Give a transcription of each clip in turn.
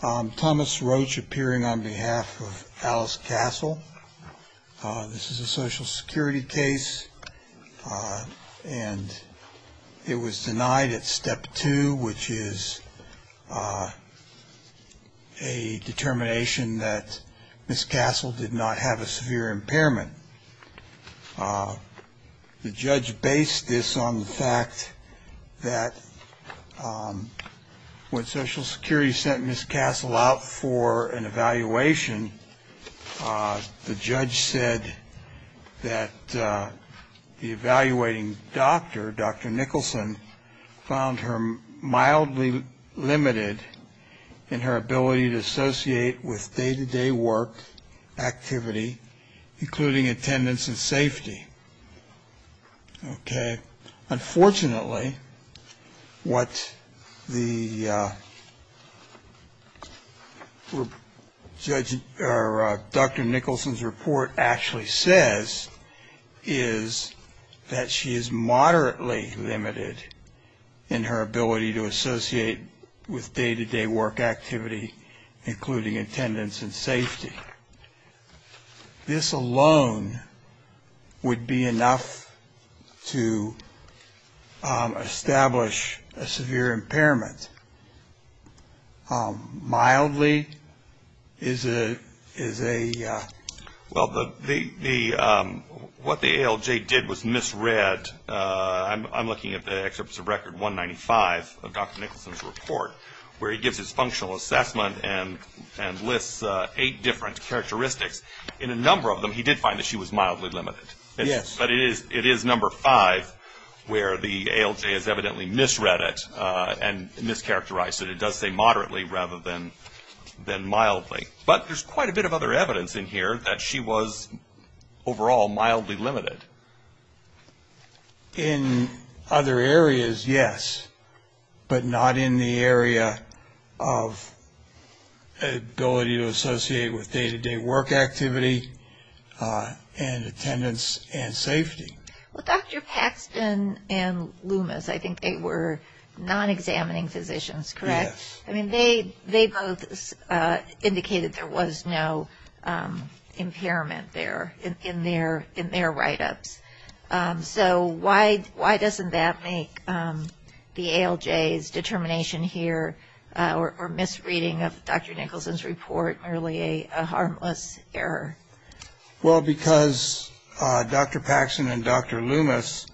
Thomas Roach appearing on behalf of Alice Castle. This is a Social Security case and it was denied at step two, which is a determination that Ms. Castle did not have a severe impairment. The judge based this on the fact that when Social Security sent Ms. Castle out for an evaluation, the judge said that the evaluating doctor, Dr. Nicholson, found her mildly limited in her ability to associate with day-to-day work, activity, including attendance and safety. Unfortunately, what Dr. Nicholson's report actually says is that she is moderately limited in her ability to associate with day-to-day work, activity, including attendance and safety. This alone would be enough to establish a severe impairment. Mildly is a... In a number of them, he did find that she was mildly limited. But it is number five where the ALJ has evidently misread it and mischaracterized it. It does say moderately rather than mildly. But there's quite a bit of other evidence in here that she was overall mildly limited. In other areas, yes, but not in the area of ability to associate with day-to-day work activity and attendance and safety. Well, Dr. Paxton and Loomis, I think they were non-examining physicians, correct? Yes. I mean, they both indicated there was no impairment there in their write-ups. So why doesn't that make the ALJ's determination here or misreading of Dr. Nicholson's report merely a harmless error? Well, because Dr. Paxton and Dr. Loomis,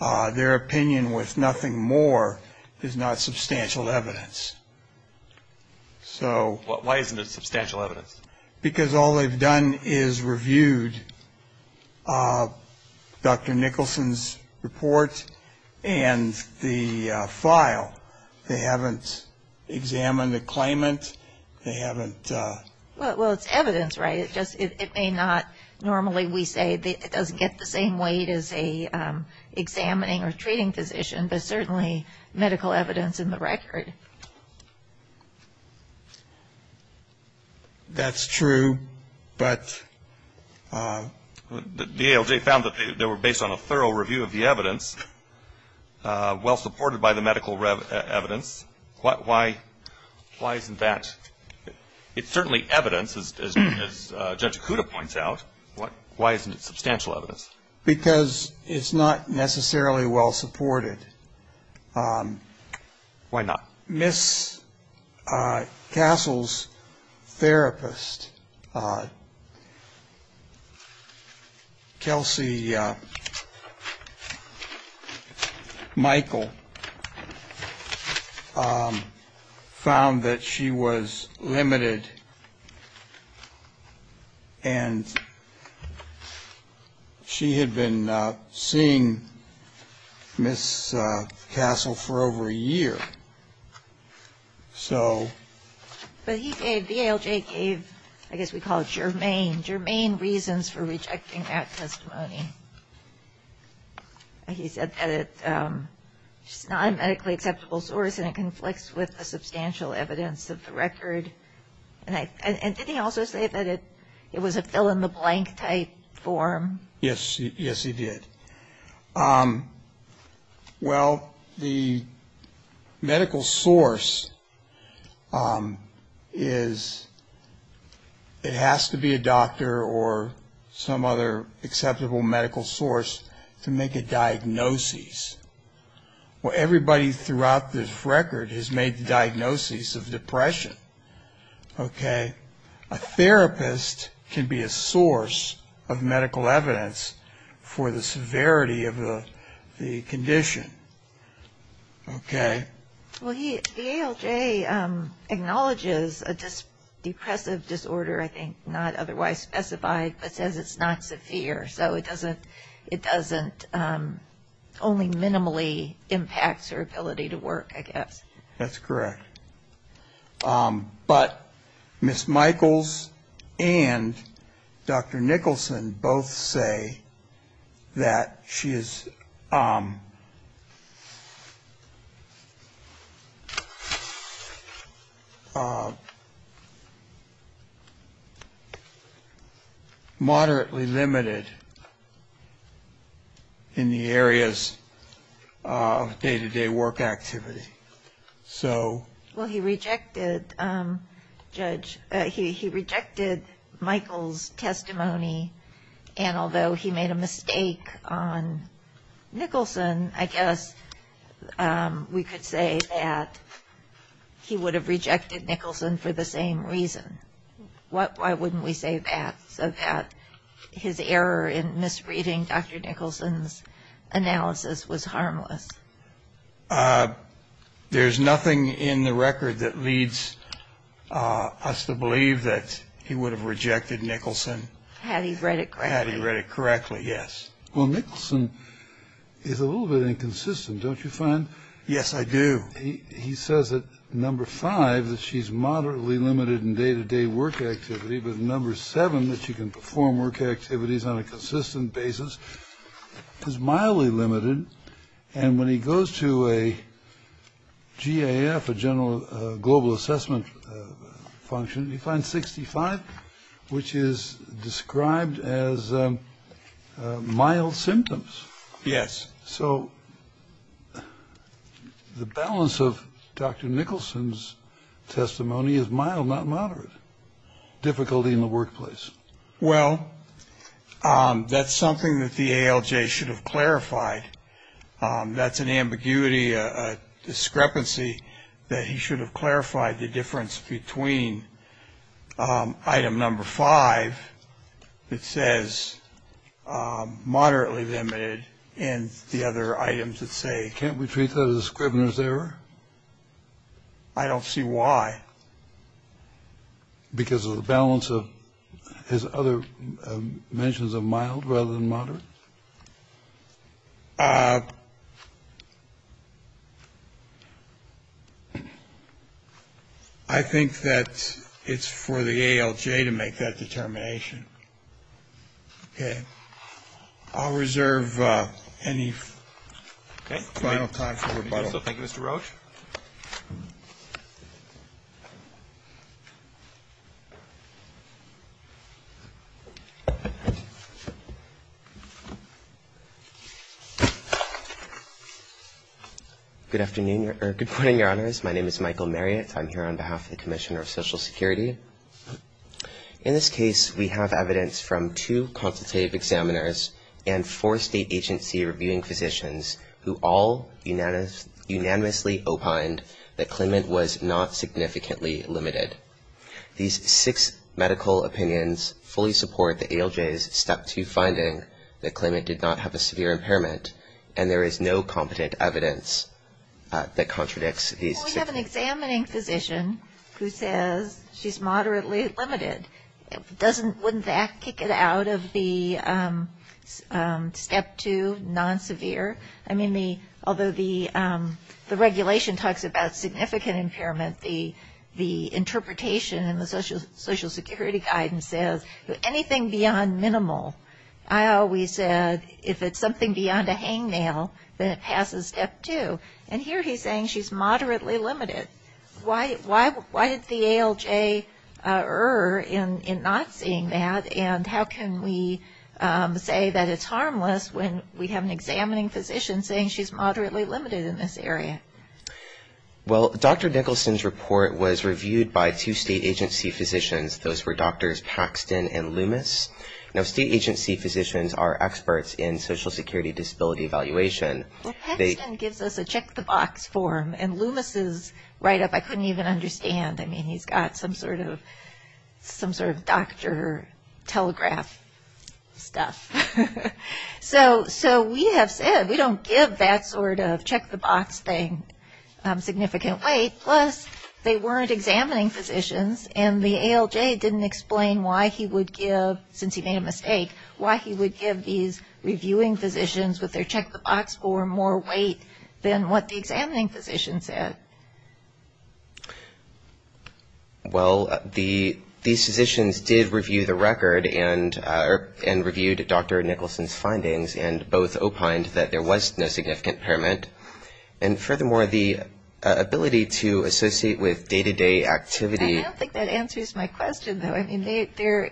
their opinion was nothing more than not substantial evidence. Why isn't it substantial evidence? Because all they've done is reviewed Dr. Nicholson's report and the file. They haven't examined the claimant. They haven't... Well, it's evidence, right? It may not normally, we say, it doesn't get the same weight as an examining or treating physician, but certainly medical evidence in the record. That's true, but... The ALJ found that they were based on a thorough review of the evidence, well-supported by the medical evidence. Why isn't that... It's certainly evidence, as Judge Kuda points out. Why isn't it substantial evidence? Because it's not necessarily well-supported. Why not? Miss Castle's therapist, Kelsey Michael, found that she was limited and she had been seeing Miss Castle for over a year. So... But he gave, the ALJ gave, I guess we call it germane, germane reasons for rejecting that testimony. He said that it's not a medically acceptable source and it conflicts with the substantial evidence of the record. And did he also say that it was a fill-in-the-blank type form? Yes. Yes, he did. Well, the medical source is, it has to be a doctor or some other acceptable medical source to make a diagnosis. Well, everybody throughout this record has made the diagnosis of depression, okay? A therapist can be a source of medical evidence for the severity of the condition, okay? Well, he, the ALJ acknowledges a depressive disorder, I think, not otherwise specified, but says it's not severe. So it doesn't, it doesn't only minimally impact her ability to work, I guess. That's correct. But Miss Michaels and Dr. Nicholson both say that she is... ...moderately limited in the areas of day-to-day work activity. Well, he rejected, Judge, he rejected Michaels' testimony, and although he made a mistake on Nicholson, I guess we could say that he would have rejected Nicholson for the same reason. Why wouldn't we say that? So that his error in misreading Dr. Nicholson's analysis was harmless. There's nothing in the record that leads us to believe that he would have rejected Nicholson. Had he read it correctly. Had he read it correctly, yes. Well, Nicholson is a little bit inconsistent, don't you find? Yes, I do. He says that number five, that she's moderately limited in day-to-day work activity, but number seven, that she can perform work activities on a consistent basis, is mildly limited. And when he goes to a GAF, a general global assessment function, he finds 65, which is described as mild symptoms. Yes. So the balance of Dr. Nicholson's testimony is mild, not moderate. Difficulty in the workplace. Well, that's something that the ALJ should have clarified. That's an ambiguity, a discrepancy, that he should have clarified the difference between item number five, that says moderately limited, and the other items that say. Can't we treat that as Scribner's error? I don't see why. Because of the balance of his other mentions of mild rather than moderate? I think that it's for the ALJ to make that determination. Okay. I'll reserve any final time for rebuttal. Thank you, Mr. Roach. Good morning, Your Honors. My name is Michael Marriott. I'm here on behalf of the Commissioner of Social Security. In this case, we have evidence from two consultative examiners and four state agency reviewing physicians who all unanimously opined that claimant was not significantly limited. These six medical opinions fully support the ALJ's Step 2 finding that claimant did not have a severe impairment, and there is no competent evidence that contradicts these. Well, we have an examining physician who says she's moderately limited. Wouldn't that kick it out of the Step 2 non-severe? I mean, although the regulation talks about significant impairment, the interpretation in the Social Security guidance says anything beyond minimal. I always said if it's something beyond a hangnail, then it passes Step 2. And here he's saying she's moderately limited. Why did the ALJ err in not saying that, and how can we say that it's harmless when we have an examining physician saying she's moderately limited in this area? Well, Dr. Nicholson's report was reviewed by two state agency physicians. Those were Drs. Paxton and Loomis. Now, state agency physicians are experts in Social Security disability evaluation. Well, Paxton gives us a check-the-box form, and Loomis' write-up I couldn't even understand. I mean, he's got some sort of doctor telegraph stuff. So we have said we don't give that sort of check-the-box thing significant weight, plus they weren't examining physicians, and the ALJ didn't explain why he would give, since he made a mistake, why he would give these reviewing physicians with their check-the-box form more weight than what the examining physician said. Well, these physicians did review the record and reviewed Dr. Nicholson's findings and both opined that there was no significant impairment. And furthermore, the ability to associate with day-to-day activity. I don't think that answers my question, though. I mean, they're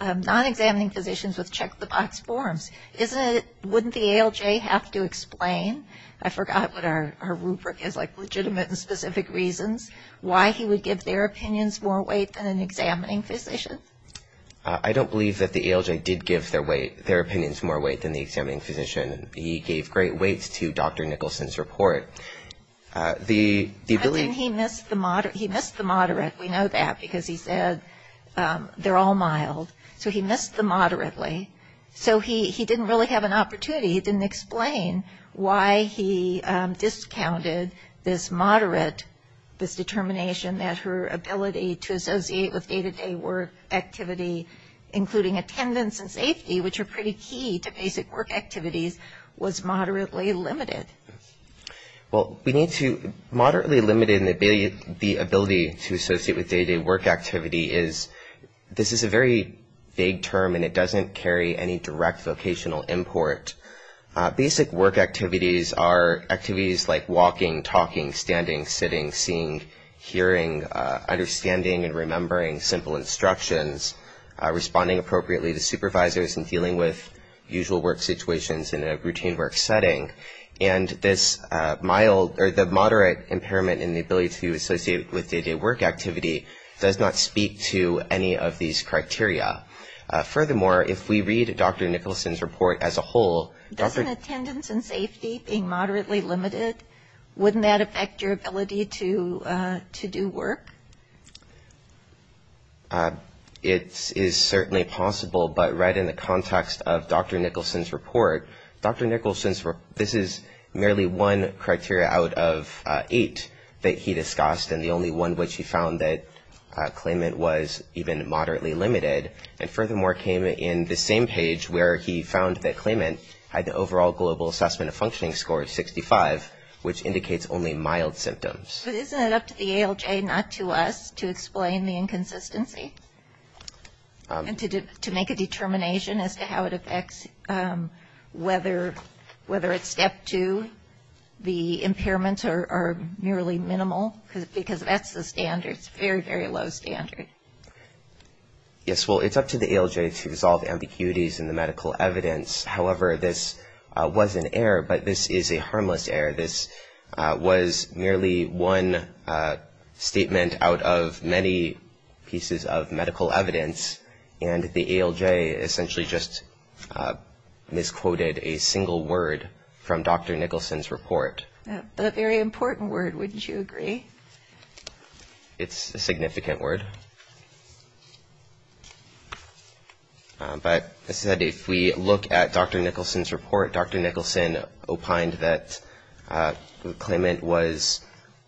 non-examining physicians with check-the-box forms. Wouldn't the ALJ have to explain? I forgot what our rubric is, like legitimate and specific reasons why he would give their opinions more weight than an examining physician? I don't believe that the ALJ did give their opinions more weight than the examining physician. He gave great weights to Dr. Nicholson's report. I think he missed the moderate. We know that because he said they're all mild. So he missed the moderately. So he didn't really have an opportunity. He didn't explain why he discounted this moderate, this determination that her ability to associate with day-to-day work activity, including attendance and safety, which are pretty key to basic work activities, was moderately limited. Well, we need to, moderately limited in the ability to associate with day-to-day work activity is, this is a very vague term, and it doesn't carry any direct vocational import. Basic work activities are activities like walking, talking, standing, sitting, seeing, hearing, understanding and remembering simple instructions, responding and this mild or the moderate impairment in the ability to associate with day-to-day work activity does not speak to any of these criteria. Furthermore, if we read Dr. Nicholson's report as a whole. Doesn't attendance and safety being moderately limited, wouldn't that affect your ability to do work? It is certainly possible, but right in the context of Dr. Nicholson's report, Dr. Nicholson's report, this is merely one criteria out of eight that he discussed, and the only one which he found that claimant was even moderately limited, and furthermore, came in the same page where he found that claimant had an overall global assessment of functioning score of 65, which indicates only mild symptoms. But isn't it up to the ALJ, not to us, to explain the inconsistency? And to make a determination as to how it affects whether it's step two, the impairments are merely minimal, because that's the standard. It's a very, very low standard. Yes, well, it's up to the ALJ to resolve ambiguities in the medical evidence. However, this was an error, but this is a harmless error. This was merely one statement out of many pieces of medical evidence, and the ALJ essentially just misquoted a single word from Dr. Nicholson's report. A very important word, wouldn't you agree? It's a significant word. But as I said, if we look at Dr. Nicholson's report, Dr. Nicholson opined that the claimant was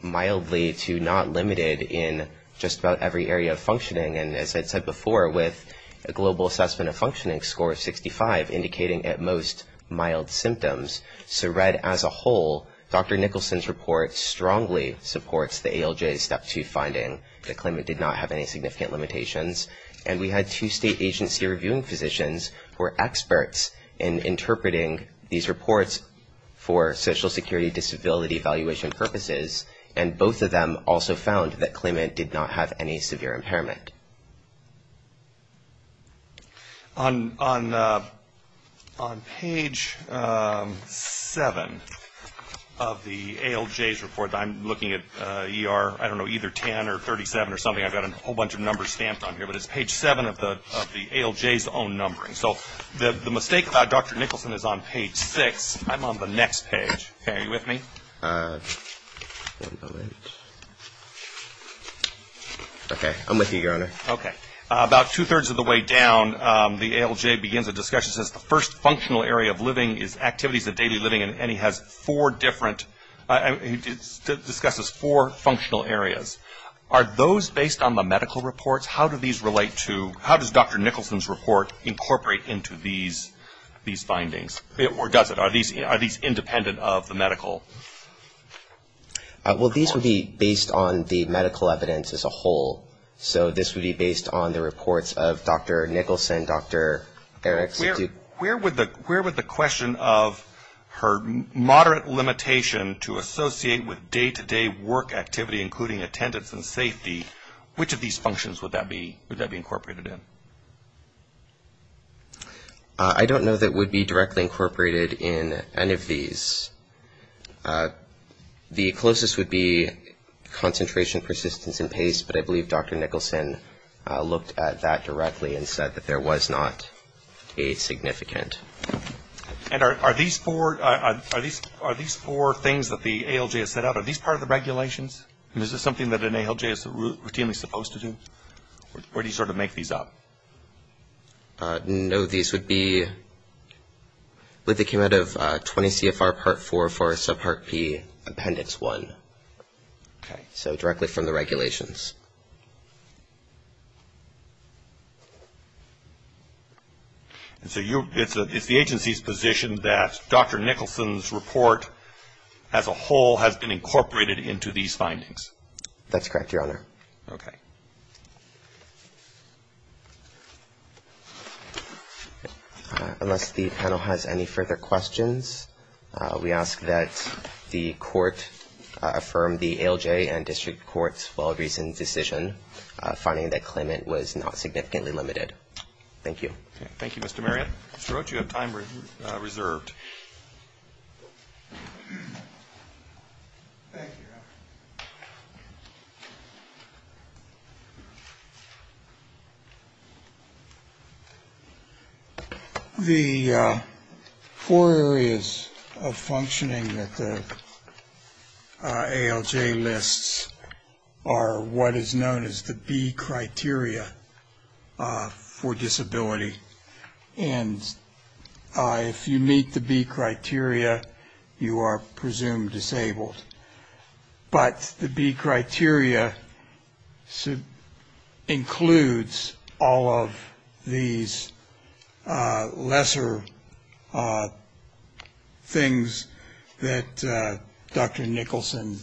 mildly to not limited in just about every area of functioning, and as I said before, with a global assessment of functioning score of 65 indicating at most mild symptoms. So read as a whole, Dr. Nicholson's report strongly supports the ALJ's step two finding that claimant did not have any significant limitations, and we had two state agency reviewing physicians who are experts in interpreting these reports for social security disability evaluation purposes, and both of them also found that claimant did not have any severe impairment. On page seven of the ALJ's report, I'm looking at ER, I don't know either 10 or 37 or something, I've got a whole bunch of numbers stamped on here, but it's page seven of the ALJ's own numbering. So the mistake about Dr. Nicholson is on page six. I'm on the next page. Are you with me? Okay. I'm with you, Your Honor. Okay. About two-thirds of the way down, the ALJ begins a discussion, says the first functional area of living is activities of daily living, and he has four different, he discusses four functional areas. Are those based on the medical reports? How do these relate to, how does Dr. Nicholson's report incorporate into these findings? Or does it? Are these independent of the medical? Well, these would be based on the medical evidence as a whole. So this would be based on the reports of Dr. Nicholson, and Dr. Erickson. Where would the question of her moderate limitation to associate with day-to-day work activity, including attendance and safety, which of these functions would that be incorporated in? I don't know that it would be directly incorporated in any of these. The closest would be concentration, persistence, and pace, but I believe Dr. Nicholson looked at that directly and said that there was not a significant. And are these four things that the ALJ has set out, are these part of the regulations? Is this something that an ALJ is routinely supposed to do? Or do you sort of make these up? No. These would be, they came out of 20 CFR Part 4 for Subpart P, Appendix 1. Okay. So directly from the regulations. And so you, it's the agency's position that Dr. Nicholson's report as a whole has been incorporated into these findings? That's correct, Your Honor. Okay. Unless the panel has any further questions, we ask that the Court affirm the ALJ and district courts for a recent decision finding that claimant was not significantly limited. Thank you. Thank you, Mr. Marriott. Mr. Roach, you have time reserved. The four areas of functioning that the ALJ lists are what is known as the B criteria for disability. And if you meet the B criteria, you are presumed disabled. But the B criteria includes all of these lesser things that Dr. Nicholson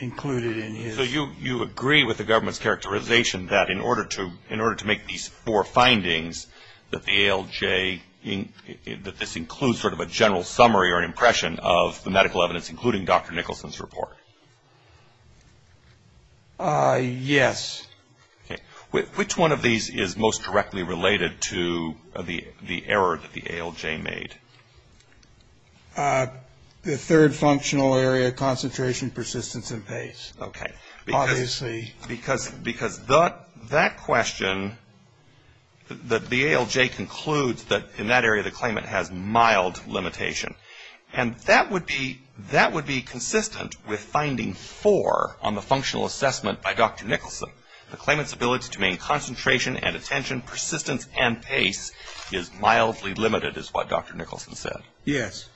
included in his report. So you agree with the government's characterization that in order to make these four findings, that the ALJ, that this includes sort of a general summary or impression of the medical evidence, including Dr. Nicholson's report? Yes. Which one of these is most directly related to the error that the ALJ made? The third functional area, concentration, persistence, and pace. Okay. Obviously. Because that question, the ALJ concludes that in that area the claimant has mild limitation. And that would be consistent with finding four on the functional assessment by Dr. Nicholson. The claimant's ability to maintain concentration and attention, persistence, and pace is mildly limited is what Dr. Nicholson said. Yes.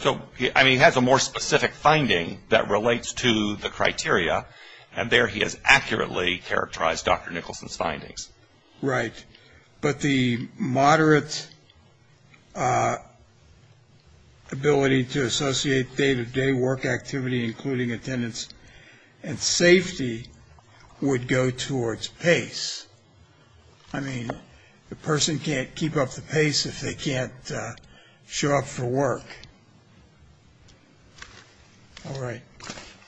So, I mean, he has a more specific finding that relates to the criteria, and there he has accurately characterized Dr. Nicholson's findings. Right. But the moderate ability to associate day-to-day work activity, including attendance and safety, would go towards pace. I mean, the person can't keep up the pace if they can't show up for work. All right.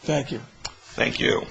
Thank you.